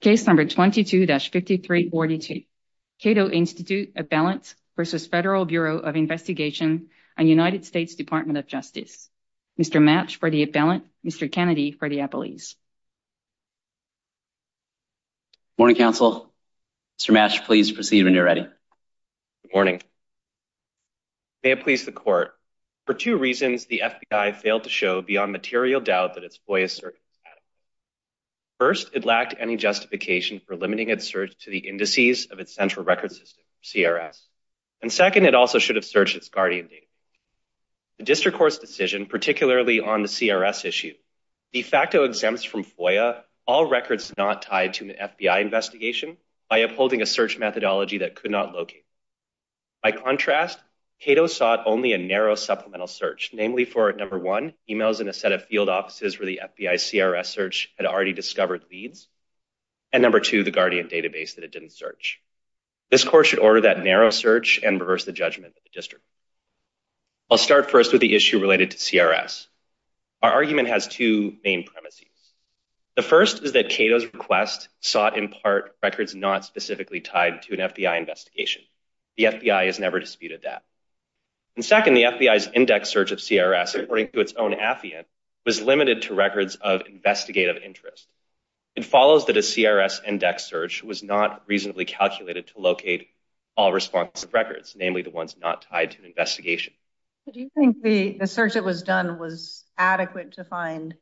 Case No. 22-5342, Cato Institute Appellant v. Federal Bureau of Investigation, U.S. Department of Justice. Mr. Matsch for the appellant, Mr. Kennedy for the appellees. Good morning, counsel. Mr. Matsch, please proceed when you're ready. Good morning. May it please the Court, for two reasons the FBI failed to show beyond material doubt that its voice is circumspect. First, it lacked any justification for limiting its search to the indices of its central record system, CRS. And second, it also should have searched its guardian data. The district court's decision, particularly on the CRS issue, de facto exempts from FOIA all records not tied to an FBI investigation by upholding a search methodology that could not locate. By contrast, Cato sought only a narrow supplemental search, namely for, number one, emails in a set of field offices where the FBI's CRS search had already discovered leads. And number two, the guardian database that it didn't search. This Court should order that narrow search and reverse the judgment of the district. I'll start first with the issue related to CRS. Our argument has two main premises. The first is that Cato's request sought in part records not specifically tied to an FBI investigation. The FBI has never disputed that. And second, the FBI's index search of CRS, according to its own affidavit, was limited to records of investigative interest. It follows that a CRS index search was not reasonably calculated to locate all responsive records, namely the ones not tied to an investigation. Do you think the search that was done was adequate to find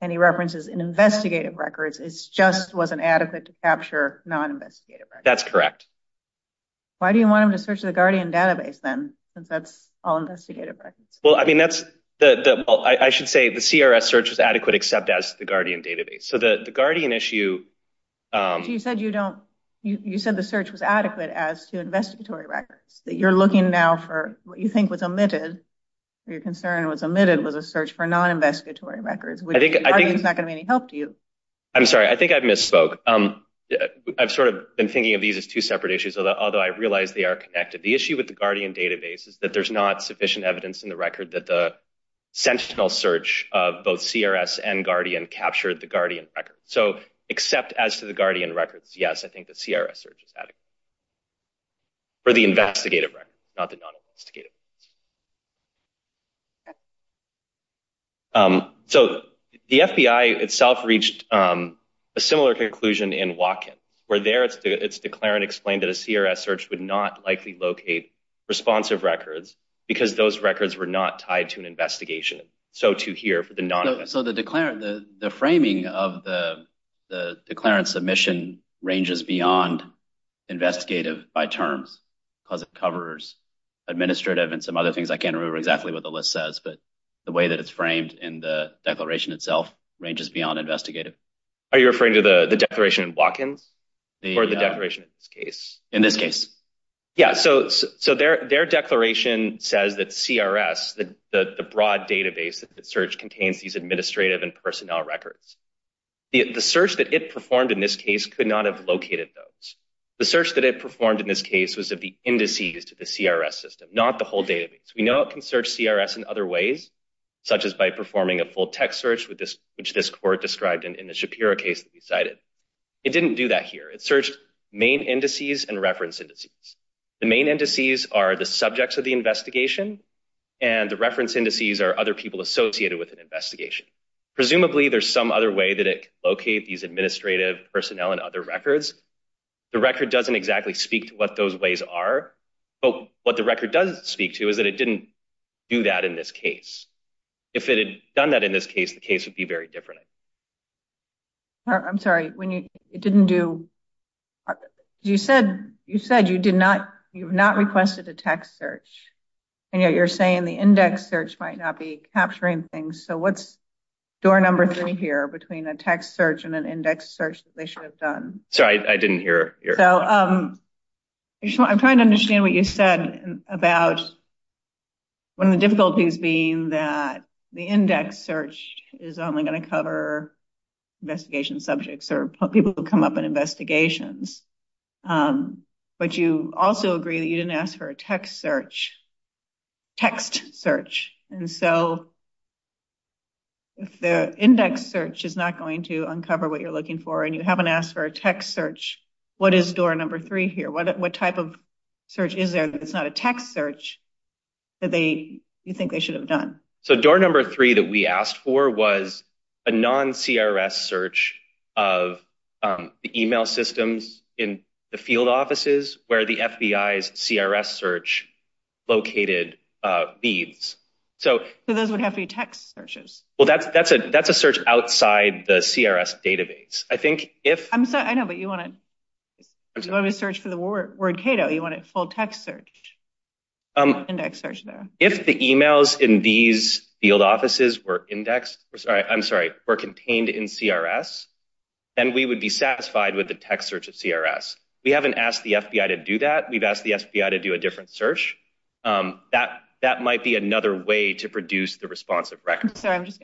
any references in investigative records? It just wasn't adequate to capture non-investigative records? That's correct. Why do you want him to search the guardian database, then, since that's all investigative records? Well, I mean, that's the—I should say the CRS search was adequate except as the guardian database. So the guardian issue— But you said you don't—you said the search was adequate as to investigatory records, that you're looking now for what you think was omitted, or your concern was omitted was a search for non-investigatory records, which I think is not going to be any help to you. I'm sorry. I think I misspoke. I've sort of been thinking of these as two separate issues, although I realize they are connected. The issue with the guardian database is that there's not sufficient evidence in the record that the sentinel search of both CRS and guardian captured the guardian record. So except as to the guardian records, yes, I think the CRS search is adequate for the investigative records, not the non-investigative records. So the FBI itself reached a similar conclusion in Watkins, where there it's declared and explained that a CRS search would not likely locate responsive records because those records were not tied to an investigation, so to hear for the non-investigative records. So the framing of the declarant submission ranges beyond investigative by terms because it covers administrative and some other things. I can't remember exactly what the list says, but the way that it's framed in the declaration itself ranges beyond investigative. Are you referring to the declaration in Watkins or the declaration in this case? In this case. Yeah, so their declaration says that CRS, the broad database that the search contains these administrative and personnel records. The search that it performed in this case could not have located those. The search that it performed in this case was of the indices to the CRS system, not the whole database. We know it can search CRS in other ways, such as by performing a full text search, which this court described in the Shapiro case that we cited. It didn't do that here. It searched main indices and reference indices. The main indices are the subjects of the investigation, and the reference indices are other people associated with an investigation. Presumably, there's some other way that it can locate these administrative personnel and other records. The record doesn't exactly speak to what those ways are, but what the record does speak to is that it didn't do that in this case. If it had done that in this case, the case would be very different. I'm sorry. When you didn't do you said you said you did not. You've not requested a text search, and yet you're saying the index search might not be capturing things. So what's door number three here between a text search and an index search that they should have done? So I didn't hear. I'm trying to understand what you said about one of the difficulties being that the index search is only going to cover investigation subjects or people who come up in investigations. But you also agree that you didn't ask for a text search text search. And so the index search is not going to uncover what you're looking for. And you haven't asked for a text search. What is door number three here? What type of search is there? It's not a text search that they think they should have done. So door number three that we asked for was a non CRS search of the email systems in the field offices where the FBI's CRS search located beads. So those would have to be text searches. Well, that's that's a that's a search outside the CRS database. I know, but you want to search for the word word Cato. You want a full text search index search there. If the emails in these field offices were indexed. I'm sorry. We're contained in CRS and we would be satisfied with the text search of CRS. We haven't asked the FBI to do that. We've asked the FBI to do a different search that that might be another way to produce the responsive record. So I'm just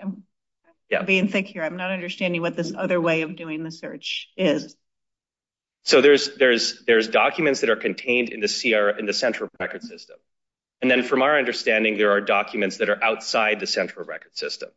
being thick here. I'm not understanding what this other way of doing the search is. So there's there's there's documents that are contained in the CR in the central record system. And then from our understanding, there are documents that are outside the central record system.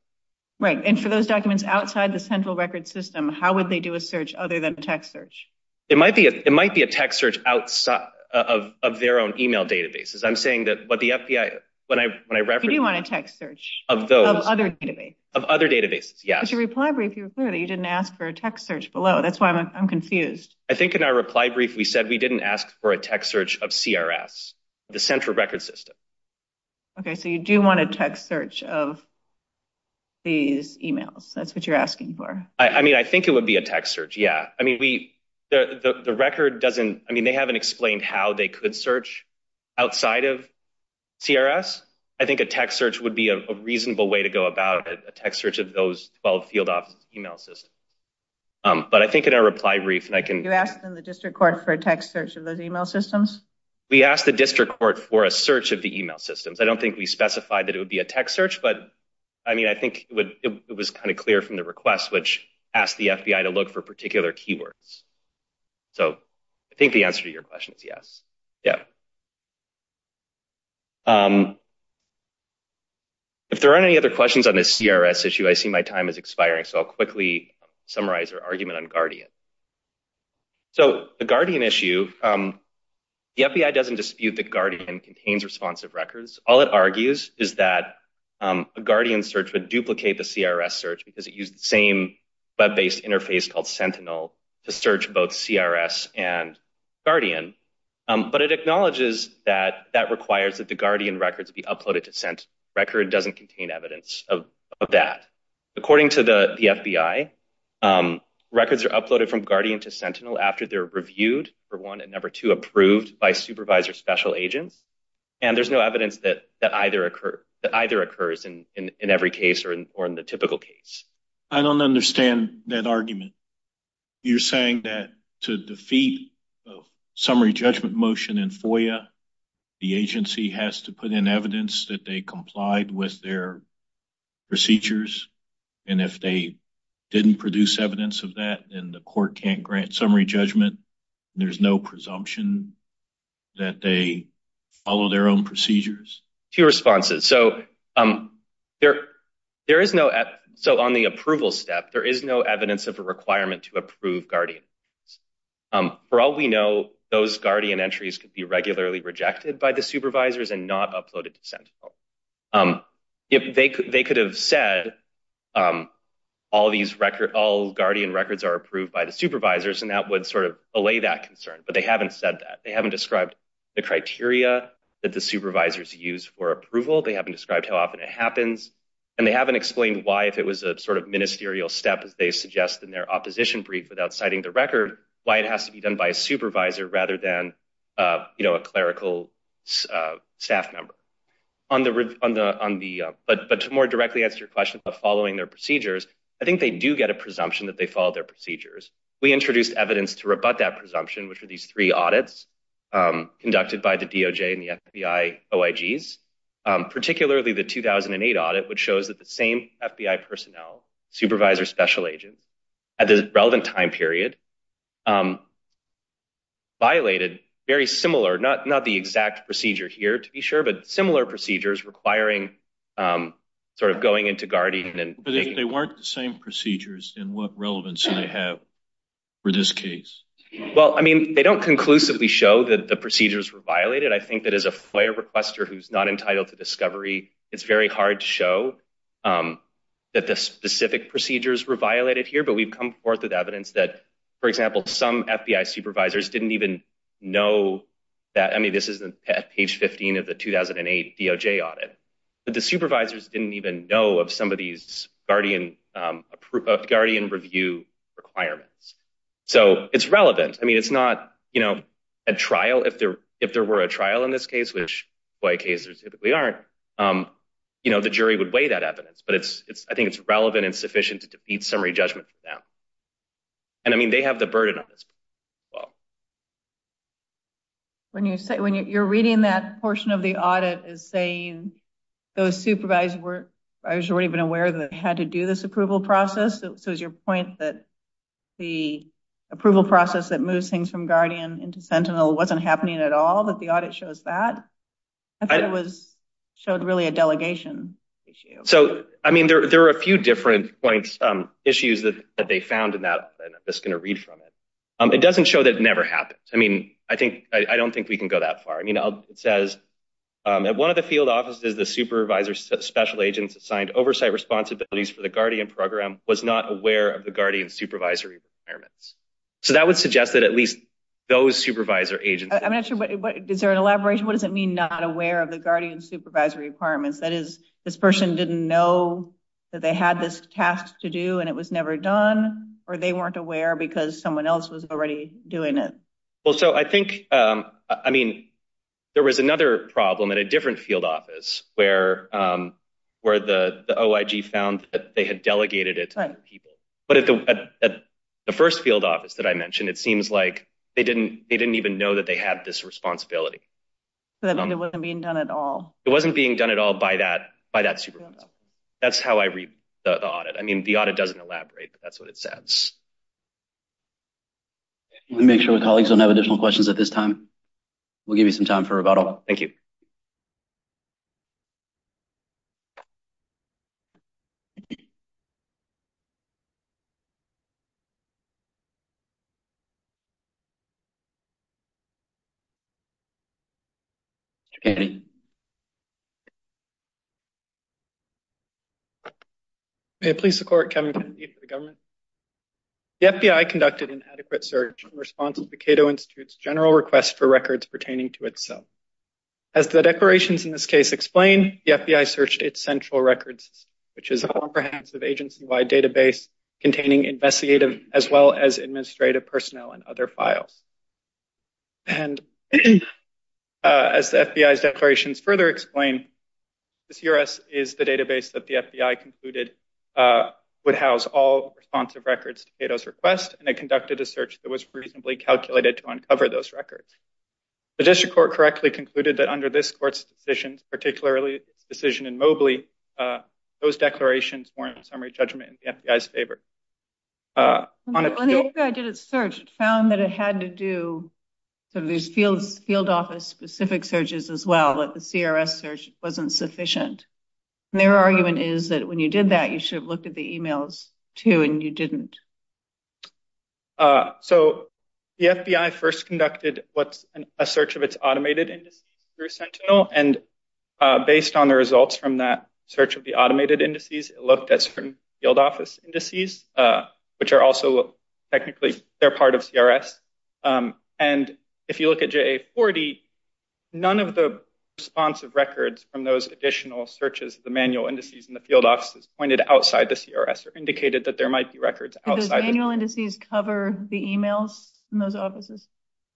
Right. And for those documents outside the central record system, how would they do a search other than a text search? It might be it might be a text search outside of their own email databases. I'm saying that what the FBI when I when I read you want a text search of those other database of other databases. Yes. Your reply brief, you didn't ask for a text search below. That's why I'm confused. I think in our reply brief, we said we didn't ask for a text search of CRS, the central record system. OK, so you do want a text search of. These emails, that's what you're asking for. I mean, I think it would be a text search. Yeah. I mean, we the record doesn't I mean, they haven't explained how they could search outside of CRS. I think a text search would be a reasonable way to go about a text search of those 12 field office email system. But I think in our reply brief and I can ask the district court for a text search of those email systems. We asked the district court for a search of the email systems. I don't think we specified that it would be a text search. But I mean, I think it was kind of clear from the request, which asked the FBI to look for particular keywords. So I think the answer to your question is yes. Yeah. If there are any other questions on the CRS issue, I see my time is expiring, so I'll quickly summarize our argument on Guardian. So the Guardian issue, the FBI doesn't dispute that Guardian contains responsive records. All it argues is that a Guardian search would duplicate the CRS search because it used the same Web-based interface called Sentinel to search both CRS and Guardian. But it acknowledges that that requires that the Guardian records be uploaded to sent record doesn't contain evidence of that. According to the FBI, records are uploaded from Guardian to Sentinel after they're reviewed for one and never to approved by supervisor special agents. And there's no evidence that either occurs in every case or in the typical case. I don't understand that argument. You're saying that to defeat a summary judgment motion in FOIA, the agency has to put in evidence that they complied with their procedures. And if they didn't produce evidence of that, then the court can't grant summary judgment. There's no presumption that they follow their own procedures to responses. So there there is no. So on the approval step, there is no evidence of a requirement to approve Guardian. For all we know, those Guardian entries could be regularly rejected by the supervisors and not uploaded to Sentinel. They could have said all these record all Guardian records are approved by the supervisors. And that would sort of allay that concern. But they haven't said that they haven't described the criteria that the supervisors use for approval. They haven't described how often it happens. And they haven't explained why, if it was a sort of ministerial step, as they suggest in their opposition brief without citing the record, why it has to be done by a supervisor rather than a clerical staff member. But to more directly answer your question about following their procedures, I think they do get a presumption that they follow their procedures. We introduced evidence to rebut that presumption, which are these three audits conducted by the DOJ and the FBI OIGs. Particularly the 2008 audit, which shows that the same FBI personnel, supervisors, special agents, at the relevant time period, violated very similar, not the exact procedure here to be sure, but similar procedures requiring sort of going into Guardian. But if they weren't the same procedures, then what relevance do they have for this case? Well, I mean, they don't conclusively show that the procedures were violated. I think that as a FOIA requester who's not entitled to discovery, it's very hard to show that the specific procedures were violated here. But we've come forth with evidence that, for example, some FBI supervisors didn't even know that. I mean, this is at page 15 of the 2008 DOJ audit. But the supervisors didn't even know of some of these Guardian review requirements. So it's relevant. I mean, it's not, you know, a trial. If there were a trial in this case, which FOIA cases typically aren't, you know, the jury would weigh that evidence. But I think it's relevant and sufficient to defeat summary judgment for them. And I mean, they have the burden on this case as well. When you're reading that portion of the audit, it's saying those supervisors weren't even aware that they had to do this approval process. So is your point that the approval process that moves things from Guardian into Sentinel wasn't happening at all, that the audit shows that? I thought it showed really a delegation issue. So, I mean, there are a few different points, issues that they found in that, and I'm just going to read from it. It doesn't show that it never happened. I mean, I don't think we can go that far. I mean, it says, one of the field offices, the supervisor special agents assigned oversight responsibilities for the Guardian program was not aware of the Guardian supervisory requirements. So that would suggest that at least those supervisor agents. I'm not sure, is there an elaboration? What does it mean not aware of the Guardian supervisory requirements? That is, this person didn't know that they had this task to do, and it was never done, or they weren't aware because someone else was already doing it? Well, so I think, I mean, there was another problem at a different field office where the OIG found that they had delegated it to other people. But at the first field office that I mentioned, it seems like they didn't even know that they had this responsibility. So that means it wasn't being done at all. It wasn't being done at all by that supervisor. That's how I read the audit. I mean, the audit doesn't elaborate, but that's what it says. Let me make sure my colleagues don't have additional questions at this time. We'll give you some time for rebuttal. Thank you. As the declarations in this case explain, the FBI searched its central records, which is a comprehensive agency-wide database containing investigative as well as administrative personnel and other files. And as the FBI's declarations further explain, this U.S. is the database that the FBI concluded would house all responsive records to Cato's request, and it conducted a search that was reasonably calculated to uncover those records. The district court correctly concluded that under this court's decisions, particularly its decision in Mobley, those declarations warrant summary judgment in the FBI's favor. When the FBI did its search, it found that it had to do sort of these field office-specific searches as well, that the CRS search wasn't sufficient. And their argument is that when you did that, you should have looked at the e-mails, too, and you didn't. So the FBI first conducted a search of its automated indices through Sentinel, and based on the results from that search of the automated indices, it looked at certain field office indices, which are also technically part of CRS. And if you look at JA-40, none of the responsive records from those additional searches of the manual indices in the field offices pointed outside the CRS or indicated that there might be records outside of it. Do those manual indices cover the e-mails in those offices?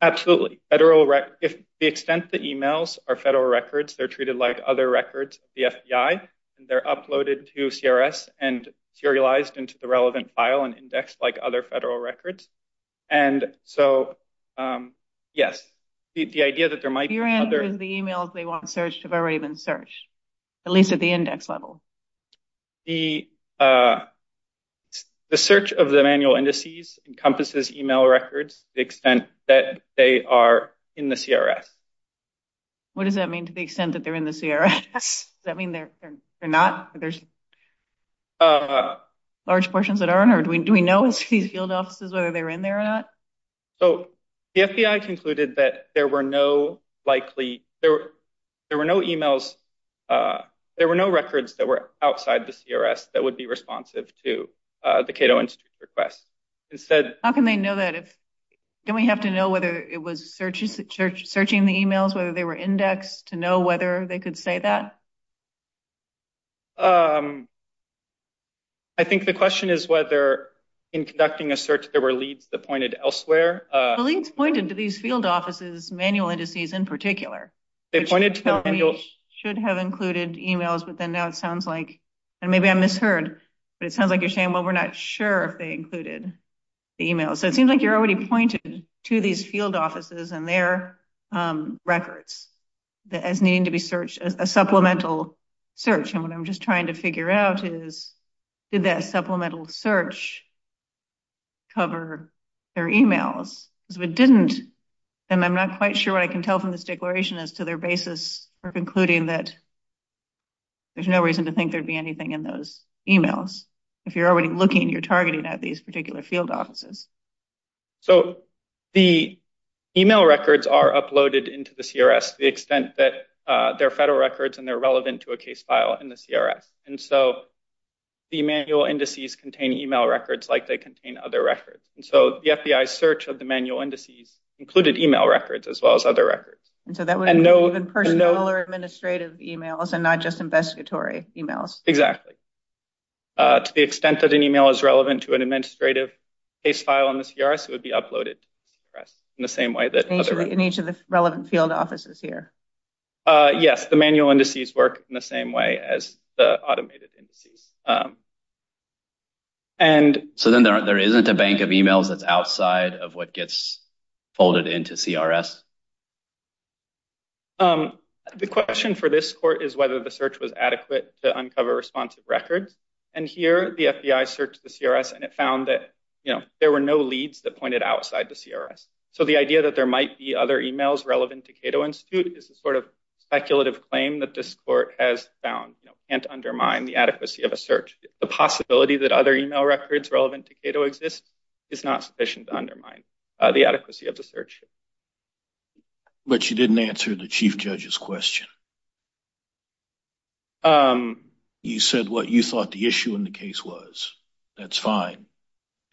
Absolutely. The extent the e-mails are federal records, they're treated like other records of the FBI, and they're uploaded to CRS and serialized into the relevant file and indexed like other federal records. And so, yes, the idea that there might be other… Your answer is the e-mails they want searched have already been searched, at least at the index level. The search of the manual indices encompasses e-mail records to the extent that they are in the CRS. What does that mean, to the extent that they're in the CRS? Does that mean they're not? Large portions that aren't? Do we know if these field offices, whether they're in there or not? So, the FBI concluded that there were no likely… There were no e-mails… There were no records that were outside the CRS that would be responsive to the Cato Institute's request. Instead… How can they know that if… Don't we have to know whether it was searching the e-mails, whether they were indexed, to know whether they could say that? I think the question is whether, in conducting a search, there were leads that pointed elsewhere. The leads pointed to these field offices' manual indices in particular. They pointed to the manual… Which should have included e-mails, but then now it sounds like… And maybe I misheard, but it sounds like you're saying, well, we're not sure if they included the e-mails. So, it seems like you're already pointing to these field offices and their records as needing to be searched as a supplemental search. And what I'm just trying to figure out is, did that supplemental search cover their e-mails? Because if it didn't, then I'm not quite sure what I can tell from this declaration as to their basis for concluding that there's no reason to think there'd be anything in those e-mails. If you're already looking, you're targeting at these particular field offices. So, the e-mail records are uploaded into the CRS to the extent that they're federal records and they're relevant to a case file in the CRS. And so, the manual indices contain e-mail records like they contain other records. And so, the FBI's search of the manual indices included e-mail records as well as other records. And so, that would include personal or administrative e-mails and not just investigatory e-mails. Exactly. To the extent that an e-mail is relevant to an administrative case file in the CRS, it would be uploaded to the CRS in the same way that other records. In each of the relevant field offices here. Yes, the manual indices work in the same way as the automated indices. So, then there isn't a bank of e-mails that's outside of what gets folded into CRS? The question for this court is whether the search was adequate to uncover responsive records. And here, the FBI searched the CRS and it found that, you know, there were no leads that pointed outside the CRS. So, the idea that there might be other e-mails relevant to Cato Institute is a sort of speculative claim that this court has found, you know, can't undermine the adequacy of a search. The possibility that other e-mail records relevant to Cato exist is not sufficient to undermine the adequacy of the search. But you didn't answer the Chief Judge's question. You said what you thought the issue in the case was. That's fine.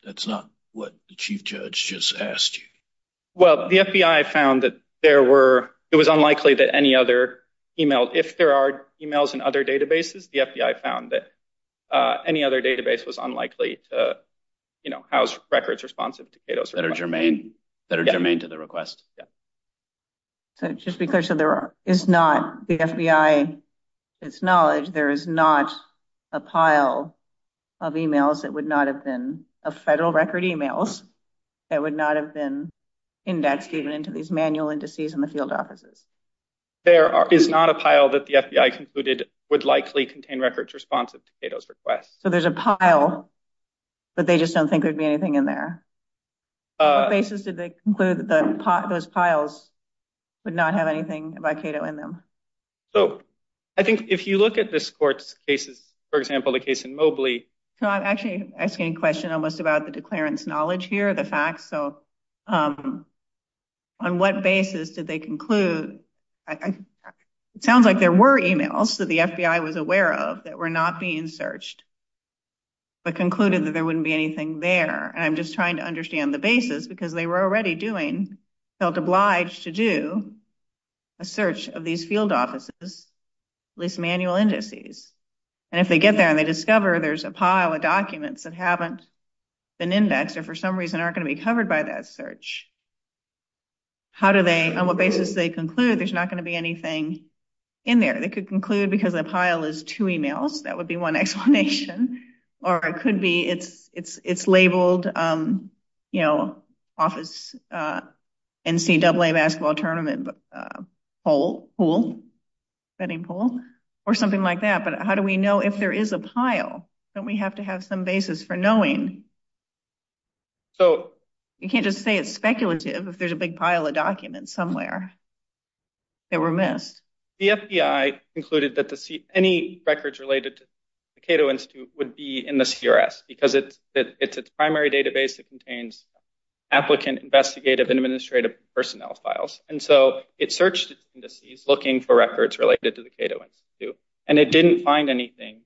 That's not what the Chief Judge just asked you. Well, the FBI found that there were – it was unlikely that any other e-mail – if there are e-mails in other databases, the FBI found that any other database was unlikely to, you know, house records responsive to Cato's request. That are germane – that are germane to the request. Yeah. So, just to be clear, so there is not – the FBI, to its knowledge, there is not a pile of e-mails that would not have been – of federal record e-mails that would not have been indexed even into these manual indices in the field offices. There is not a pile that the FBI concluded would likely contain records responsive to Cato's request. So, there's a pile, but they just don't think there'd be anything in there. On what basis did they conclude that those piles would not have anything by Cato in them? So, I think if you look at this court's cases, for example, the case in Mobley – So, I'm actually asking a question almost about the declarant's knowledge here, the facts. So, on what basis did they conclude – it sounds like there were e-mails that the FBI was aware of that were not being searched, but concluded that there wouldn't be anything there. And I'm just trying to understand the basis because they were already doing – felt obliged to do a search of these field offices, at least manual indices. And if they get there and they discover there's a pile of documents that haven't been indexed or for some reason aren't going to be covered by that search, how do they – on what basis did they conclude there's not going to be anything in there? They could conclude because a pile is two e-mails. That would be one explanation. Or it could be it's labeled, you know, office NCAA basketball tournament pool, betting pool, or something like that. But how do we know if there is a pile? Don't we have to have some basis for knowing? So – You can't just say it's speculative if there's a big pile of documents somewhere that were missed. The FBI concluded that any records related to the Cato Institute would be in the CRS because it's its primary database. It contains applicant investigative administrative personnel files. And so it searched its indices looking for records related to the Cato Institute, and it didn't find anything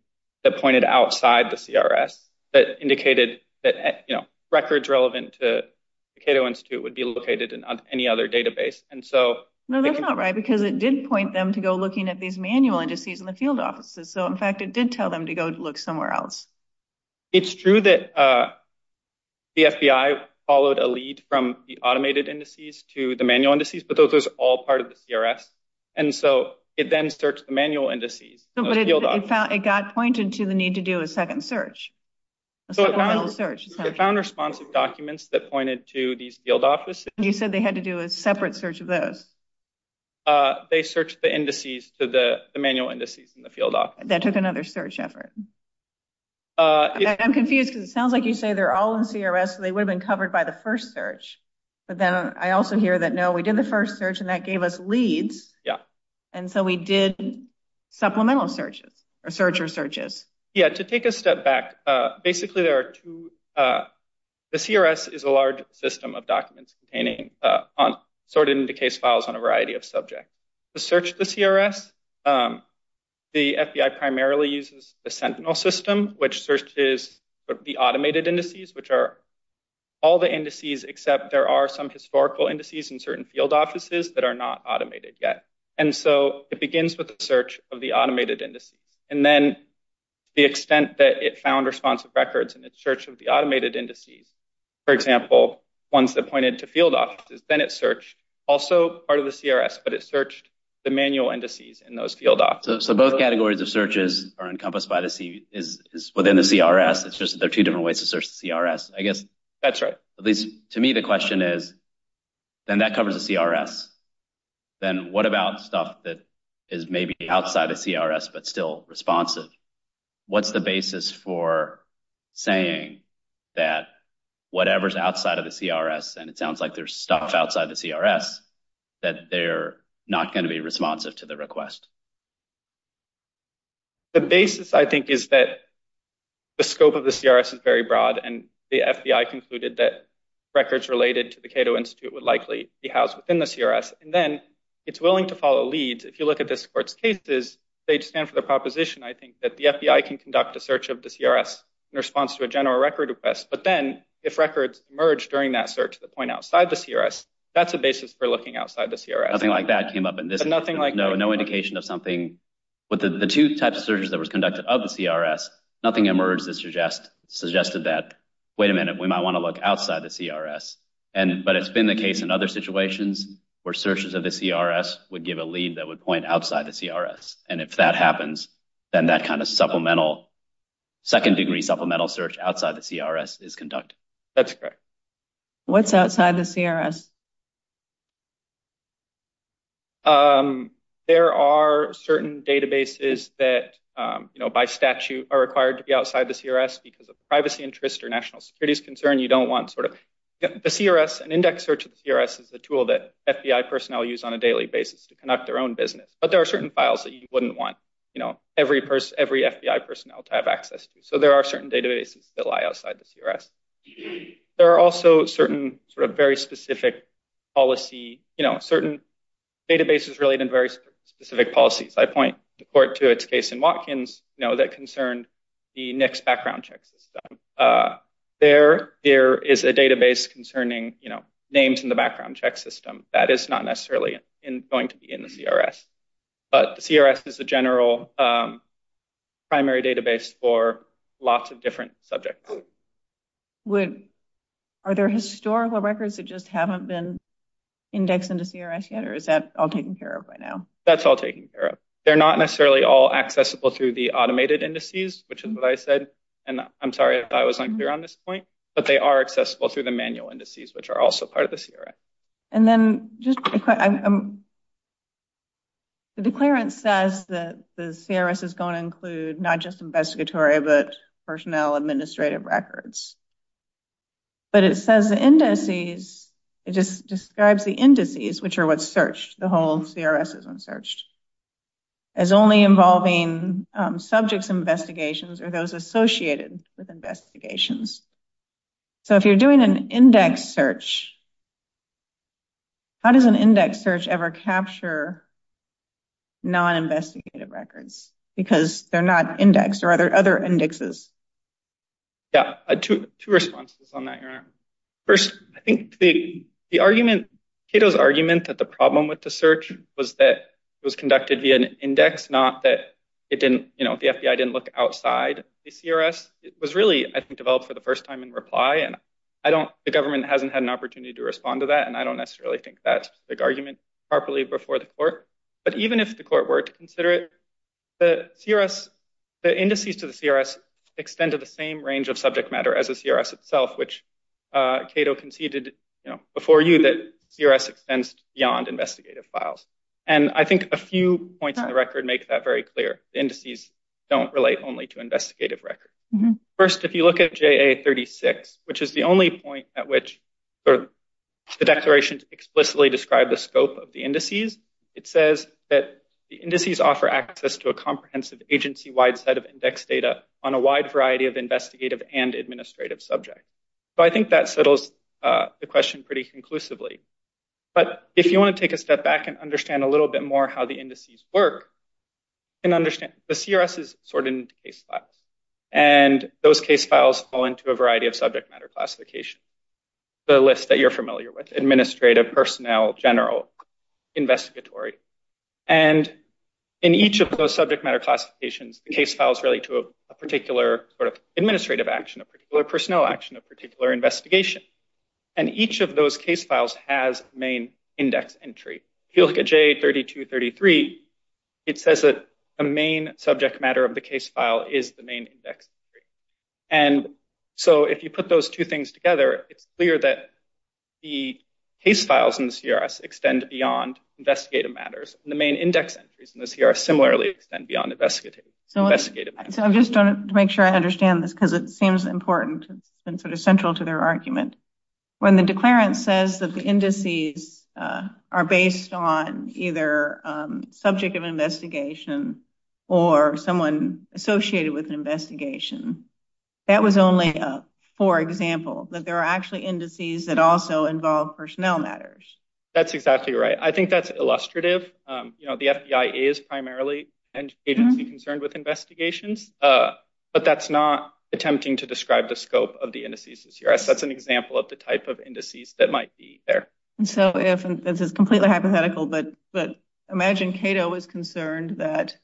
that pointed outside the CRS that indicated that, you know, records relevant to the Cato Institute would be located in any other database. And so – No, that's not right because it did point them to go looking at these manual indices in the field offices. So, in fact, it did tell them to go look somewhere else. It's true that the FBI followed a lead from the automated indices to the manual indices, but those were all part of the CRS. And so it then searched the manual indices. But it got pointed to the need to do a second search. So it found responsive documents that pointed to these field offices. You said they had to do a separate search of those. They searched the indices to the manual indices in the field office. That took another search effort. I'm confused because it sounds like you say they're all in CRS, so they would have been covered by the first search. But then I also hear that, no, we did the first search, and that gave us leads. Yeah. And so we did supplemental searches or searcher searches. Yeah. So, to take a step back, basically, there are two. The CRS is a large system of documents containing sorted into case files on a variety of subjects. To search the CRS, the FBI primarily uses the Sentinel system, which searches the automated indices, which are all the indices except there are some historical indices in certain field offices that are not automated yet. And so it begins with a search of the automated indices. And then the extent that it found responsive records in its search of the automated indices, for example, ones that pointed to field offices, then it searched also part of the CRS, but it searched the manual indices in those field offices. So both categories of searches are encompassed within the CRS. It's just that they're two different ways to search the CRS, I guess. That's right. At least to me the question is, then that covers the CRS. Then what about stuff that is maybe outside the CRS but still responsive? What's the basis for saying that whatever's outside of the CRS, and it sounds like there's stuff outside the CRS, that they're not going to be responsive to the request? The basis, I think, is that the scope of the CRS is very broad, and the FBI concluded that records related to the Cato Institute would likely be housed within the CRS. And then it's willing to follow leads. If you look at this court's cases, they stand for the proposition, I think, that the FBI can conduct a search of the CRS in response to a general record request. But then if records emerge during that search that point outside the CRS, that's a basis for looking outside the CRS. Nothing like that came up in this? Nothing like that. No indication of something? The two types of searches that were conducted of the CRS, nothing emerged that suggested that, wait a minute, we might want to look outside the CRS. But it's been the case in other situations where searches of the CRS would give a lead that would point outside the CRS. And if that happens, then that kind of second-degree supplemental search outside the CRS is conducted. That's correct. What's outside the CRS? There are certain databases that, you know, by statute are required to be outside the CRS because of privacy interests or national security's concern. You don't want sort of the CRS, an index search of the CRS is a tool that FBI personnel use on a daily basis to conduct their own business. But there are certain files that you wouldn't want, you know, every FBI personnel to have access to. So there are certain databases that lie outside the CRS. There are also certain sort of very specific policy, you know, certain databases related to very specific policies. I point to its case in Watkins, you know, that concerned the NICS background check system. There is a database concerning, you know, names in the background check system. That is not necessarily going to be in the CRS. But the CRS is the general primary database for lots of different subjects. Are there historical records that just haven't been indexed into CRS yet, or is that all taken care of by now? That's all taken care of. They're not necessarily all accessible through the automated indices, which is what I said. And I'm sorry if I was unclear on this point. But they are accessible through the manual indices, which are also part of the CRS. And then just the declarant says that the CRS is going to include not just investigatory but personnel administrative records. But it says the indices, it just describes the indices, which are what's searched, the whole CRS is when searched, as only involving subjects investigations or those associated with investigations. So if you're doing an index search, how does an index search ever capture non-investigative records? Because they're not indexed. Or are there other indexes? Yeah, two responses on that, Your Honor. First, I think the argument, Cato's argument, that the problem with the search was that it was conducted via an index, not that it didn't, you know, the FBI didn't look outside the CRS. It was really, I think, developed for the first time in reply. And I don't, the government hasn't had an opportunity to respond to that. And I don't necessarily think that's a good argument properly before the court. But even if the court were to consider it, the CRS, the indices to the CRS extend to the same range of subject matter as the CRS itself, which Cato conceded before you that CRS extends beyond investigative files. And I think a few points on the record make that very clear. The indices don't relate only to investigative records. First, if you look at JA 36, which is the only point at which the declaration explicitly described the scope of the indices, it says that the indices offer access to a comprehensive agency-wide set of index data on a wide variety of investigative and administrative subjects. So I think that settles the question pretty conclusively. But if you want to take a step back and understand a little bit more how the indices work, the CRS is sorted into case files. And those case files fall into a variety of subject matter classifications. The list that you're familiar with, administrative, personnel, general, investigatory. And in each of those subject matter classifications, the case files relate to a particular sort of administrative action, a particular personnel action, a particular investigation. And each of those case files has a main index entry. If you look at JA 3233, it says that a main subject matter of the case file is the main index entry. And so if you put those two things together, it's clear that the case files in the CRS extend beyond investigative matters. The main index entries in the CRS similarly extend beyond investigative matters. So I'm just trying to make sure I understand this because it seems important and sort of central to their argument. When the declarant says that the indices are based on either subject of investigation or someone associated with an investigation, that was only a for example, that there are actually indices that also involve personnel matters. That's exactly right. I think that's illustrative. You know, the FBI is primarily concerned with investigations, but that's not attempting to describe the scope of the indices in the CRS. That's an example of the type of indices that might be there. So this is completely hypothetical, but imagine Cato was concerned that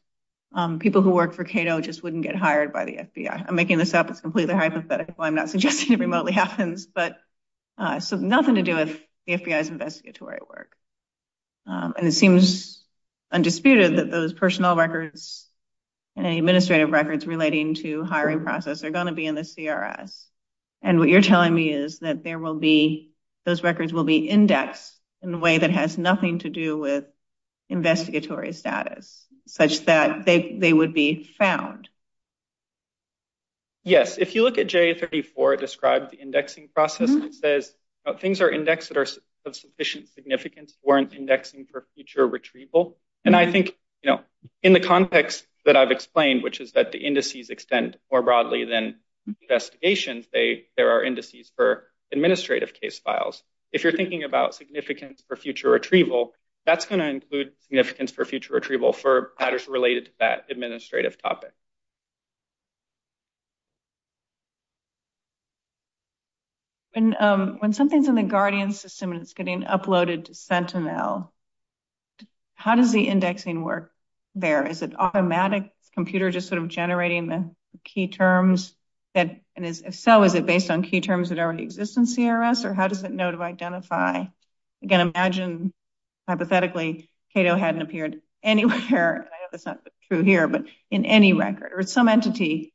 people who work for Cato just wouldn't get hired by the FBI. I'm making this up. It's completely hypothetical. I'm not suggesting it remotely happens. So nothing to do with the FBI's investigatory work. And it seems undisputed that those personnel records and administrative records relating to hiring process are going to be in the CRS. And what you're telling me is that those records will be indexed in a way that has nothing to do with investigatory status, such that they would be found. Yes, if you look at J34, it described the indexing process and says things are indexed that are of sufficient significance, weren't indexing for future retrieval. And I think, you know, in the context that I've explained, which is that the indices extend more broadly than investigations, there are indices for administrative case files. If you're thinking about significance for future retrieval, that's going to include significance for future retrieval for matters related to that administrative topic. When something's in the Guardian system and it's getting uploaded to Sentinel, how does the indexing work there? Is it automatic? Is the computer just sort of generating the key terms? And if so, is it based on key terms that already exist in CRS, or how does it know to identify? Again, imagine, hypothetically, Cato hadn't appeared anywhere. I know that's not true here, but in any record, or some entity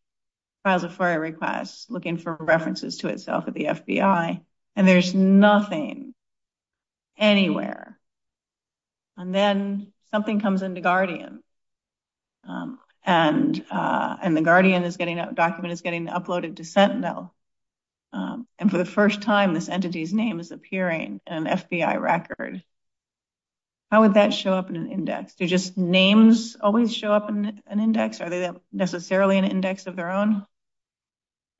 files a FOIA request looking for references to itself at the FBI, and there's nothing anywhere. And then something comes into Guardian, and the Guardian document is getting uploaded to Sentinel. And for the first time, this entity's name is appearing in an FBI record. How would that show up in an index? Do just names always show up in an index? Are they necessarily an index of their own?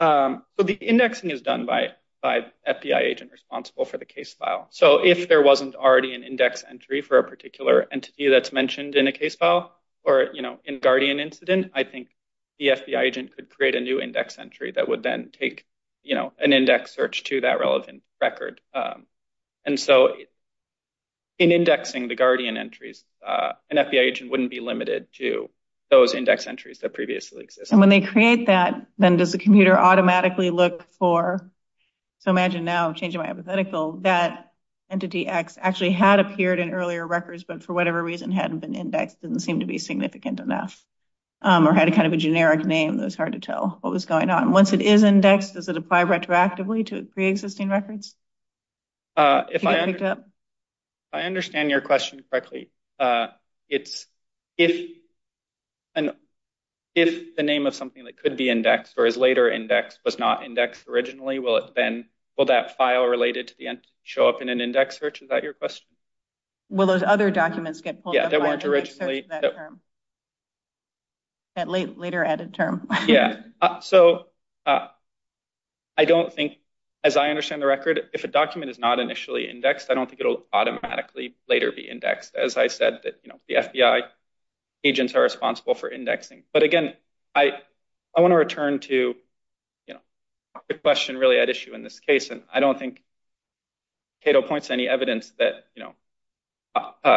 So the indexing is done by the FBI agent responsible for the case file. So if there wasn't already an index entry for a particular entity that's mentioned in a case file, or in a Guardian incident, I think the FBI agent could create a new index entry that would then take an index search to that relevant record. And so in indexing the Guardian entries, an FBI agent wouldn't be limited to those index entries that previously existed. And when they create that, then does the computer automatically look for – so imagine now, changing my hypothetical – entity X actually had appeared in earlier records, but for whatever reason hadn't been indexed, didn't seem to be significant enough, or had kind of a generic name that was hard to tell what was going on. Once it is indexed, does it apply retroactively to pre-existing records? If I understand your question correctly, it's if the name of something that could be indexed or is later indexed was not indexed originally, will that file related to the entity show up in an index search? Is that your question? Will those other documents get pulled – Yeah, that weren't originally – That later added term. Yeah. So I don't think – as I understand the record, if a document is not initially indexed, I don't think it will automatically later be indexed. As I said, the FBI agents are responsible for indexing. But again, I want to return to a question really at issue in this case. I don't think Cato points to any evidence that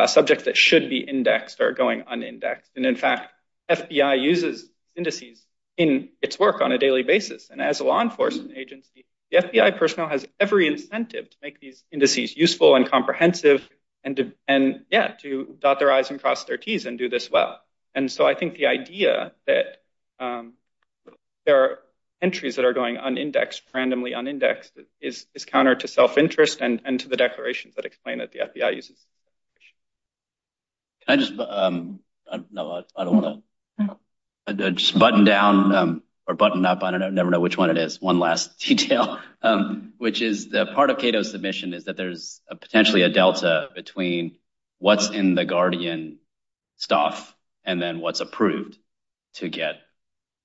subjects that should be indexed are going unindexed. And in fact, FBI uses indices in its work on a daily basis. And as a law enforcement agency, the FBI personnel has every incentive to make these indices useful and comprehensive, and yeah, to dot their I's and cross their T's and do this well. And so I think the idea that there are entries that are going unindexed, randomly unindexed, is counter to self-interest and to the declarations that explain that the FBI uses indices. Can I just – no, I don't want to – just button down or button up. I don't know. I never know which one it is. One last detail. Which is the part of Cato's submission is that there's potentially a delta between what's in the Guardian staff and then what's approved to get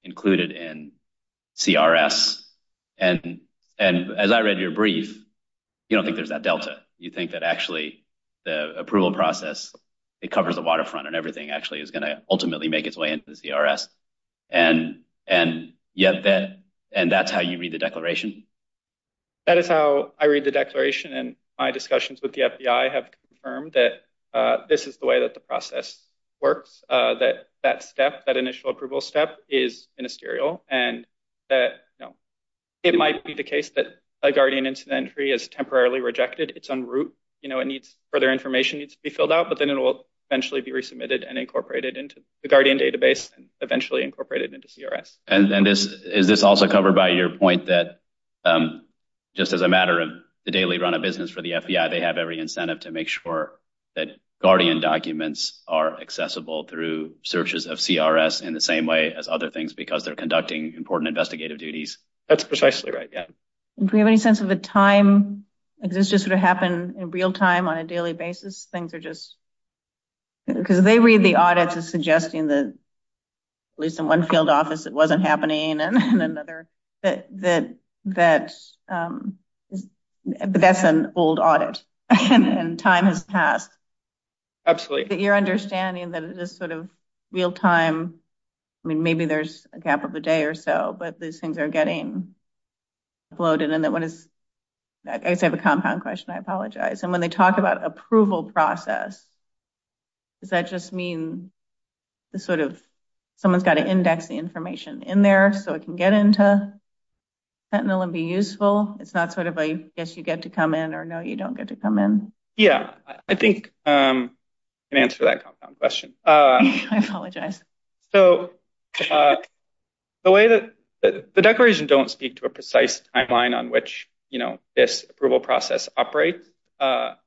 included in CRS. And as I read your brief, you don't think there's that delta. You think that actually the approval process, it covers the waterfront and everything actually is going to ultimately make its way into the CRS. And that's how you read the declaration? That is how I read the declaration. And my discussions with the FBI have confirmed that this is the way that the process works, that that step, that initial approval step, is ministerial. And it might be the case that a Guardian incident entry is temporarily rejected. It's en route. Further information needs to be filled out, but then it will eventually be resubmitted and incorporated into the Guardian database and eventually incorporated into CRS. And is this also covered by your point that just as a matter of the daily run of business for the FBI, they have every incentive to make sure that Guardian documents are accessible through searches of CRS in the same way as other things because they're conducting important investigative duties? That's precisely right. Do we have any sense of the time? Does this just sort of happen in real time on a daily basis? Because they read the audits as suggesting that, at least in one field office, it wasn't happening and in another, that that's an old audit and time has passed. Absolutely. Your understanding that it is sort of real time. I mean, maybe there's a gap of a day or so, but these things are getting bloated. And I guess I have a compound question. I apologize. And when they talk about approval process, does that just mean someone's got to index the information in there so it can get into fentanyl and be useful? It's not sort of a yes, you get to come in or no, you don't get to come in? Yeah, I think I can answer that compound question. I apologize. So the way that the declaration don't speak to a precise timeline on which this approval process operates, but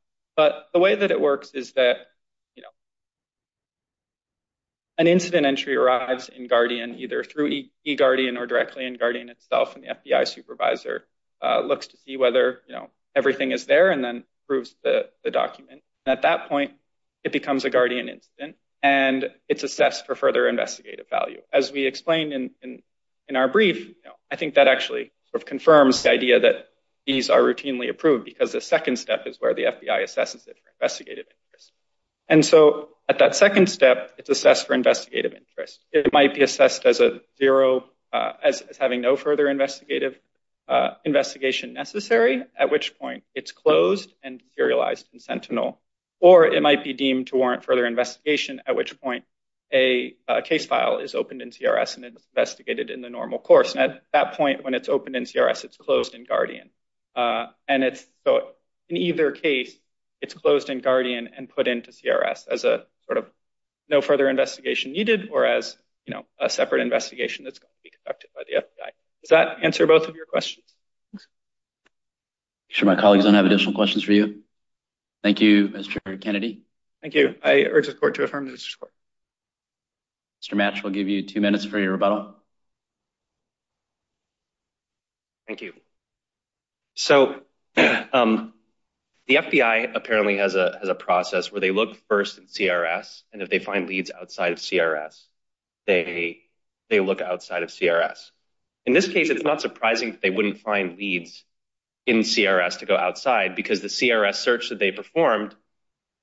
the way that it works is that an incident entry arrives in Guardian, either through eGuardian or directly in Guardian itself. And the FBI supervisor looks to see whether everything is there and then proves the document. At that point, it becomes a Guardian incident and it's assessed for further investigative value. As we explained in our brief, I think that actually confirms the idea that these are routinely approved because the second step is where the FBI assesses it for investigative interest. And so at that second step, it's assessed for investigative interest. It might be assessed as a zero, as having no further investigative investigation necessary, at which point it's closed and serialized in fentanyl. Or it might be deemed to warrant further investigation, at which point a case file is opened in CRS and it's investigated in the normal course. And at that point when it's opened in CRS, it's closed in Guardian. And so in either case, it's closed in Guardian and put into CRS as a sort of no further investigation needed or as a separate investigation that's going to be conducted by the FBI. Does that answer both of your questions? I'm sure my colleagues don't have additional questions for you. Thank you, Mr. Kennedy. Thank you. I urge the court to affirm this report. Mr. Match, we'll give you two minutes for your rebuttal. Thank you. So the FBI apparently has a process where they look first in CRS, and if they find leads outside of CRS, they look outside of CRS. In this case, it's not surprising that they wouldn't find leads in CRS to go outside because the CRS search that they performed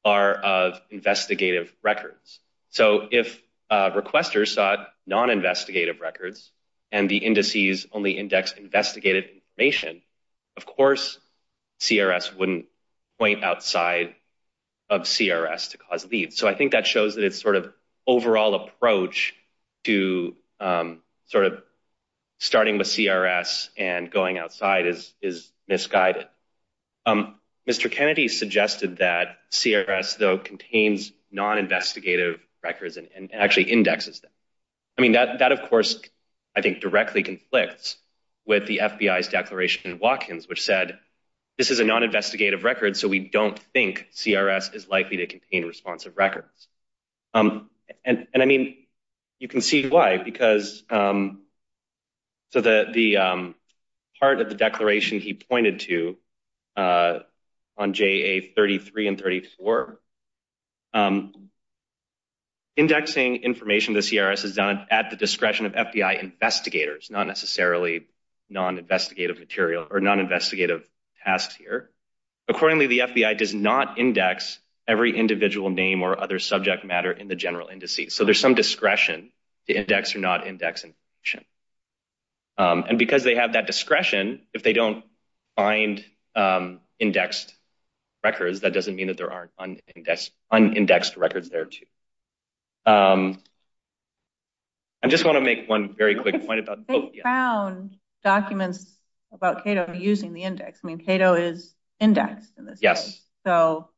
are of investigative records. So if requesters sought non-investigative records and the indices only index investigative information, of course CRS wouldn't point outside of CRS to cause leads. So I think that shows that it's sort of overall approach to sort of starting with CRS and going outside is misguided. Mr. Kennedy suggested that CRS, though, contains non-investigative records and actually indexes them. I mean, that, of course, I think directly conflicts with the FBI's declaration in Watkins, which said this is a non-investigative record, so we don't think CRS is likely to contain responsive records. And I mean, you can see why, because the part of the declaration he pointed to on JA33 and 34, indexing information to CRS is done at the discretion of FBI investigators, not necessarily non-investigative material or non-investigative tasks here. Accordingly, the FBI does not index every individual name or other subject matter in the general indices. So there's some discretion to index or not index information. And because they have that discretion, if they don't find indexed records, that doesn't mean that there aren't unindexed records there, too. I just want to make one very quick point about... They found documents about Cato using the index. I mean, Cato is indexed in this case. Yes. So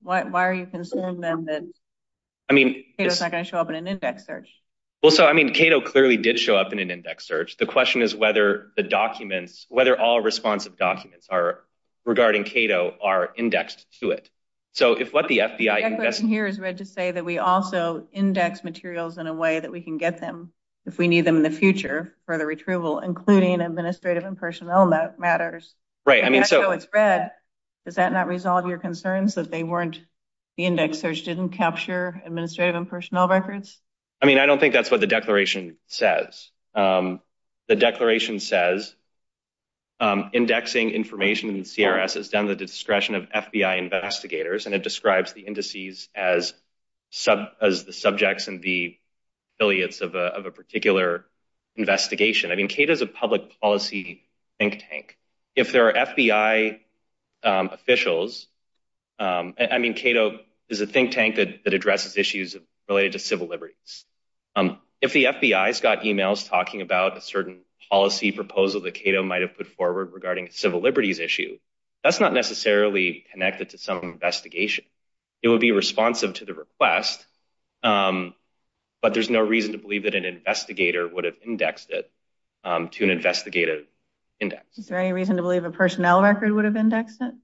why are you concerned, then, that Cato's not going to show up in an index search? Well, so, I mean, Cato clearly did show up in an index search. The question is whether the documents, whether all responsive documents regarding Cato are indexed to it. The declaration here is read to say that we also index materials in a way that we can get them if we need them in the future for the retrieval, including administrative and personnel matters. Right. That's how it's read. Does that not resolve your concerns that the index search didn't capture administrative and personnel records? I mean, I don't think that's what the declaration says. The declaration says indexing information in the CRS is down to the discretion of FBI investigators, and it describes the indices as the subjects and the affiliates of a particular investigation. I mean, Cato's a public policy think tank. If there are FBI officials, I mean, Cato is a think tank that addresses issues related to civil liberties. If the FBI's got emails talking about a certain policy proposal that Cato might have put forward regarding a civil liberties issue, that's not necessarily connected to some investigation. It would be responsive to the request, but there's no reason to believe that an investigator would have indexed it to an investigative index. Is there any reason to believe a personnel record would have indexed it?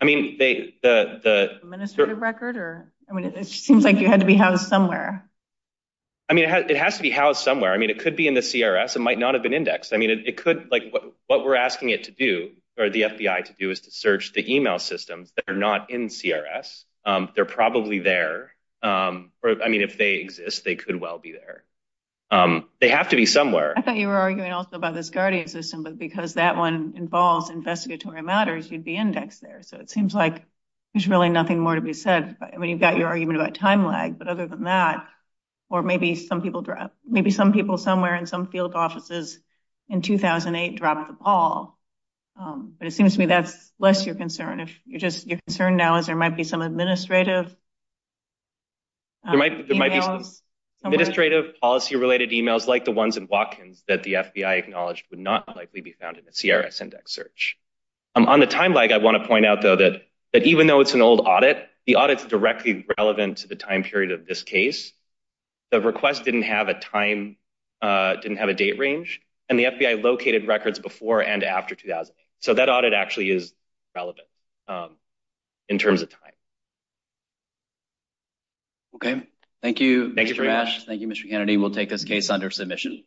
The administrative record? It seems like you had to be housed somewhere. I mean, it has to be housed somewhere. I mean, it could be in the CRS. It might not have been indexed. I mean, what we're asking it to do, or the FBI to do, is to search the email systems that are not in CRS. They're probably there. I mean, if they exist, they could well be there. They have to be somewhere. I thought you were arguing also about this Guardian system, but because that one involves investigatory matters, you'd be indexed there. So it seems like there's really nothing more to be said. I mean, you've got your argument about time lag, but other than that, or maybe some people somewhere in some field offices in 2008 dropped the ball. But it seems to me that's less your concern. Your concern now is there might be some administrative emails. There might be some administrative policy-related emails like the ones in Watkins that the FBI acknowledged would not likely be found in a CRS index search. On the time lag, I want to point out, though, that even though it's an old audit, the audit's directly relevant to the time period of this case. The request didn't have a date range, and the FBI located records before and after 2008. So that audit actually is relevant in terms of time. Okay. Thank you, Mr. Ash. Thank you very much. This opportunity will take this case under submission.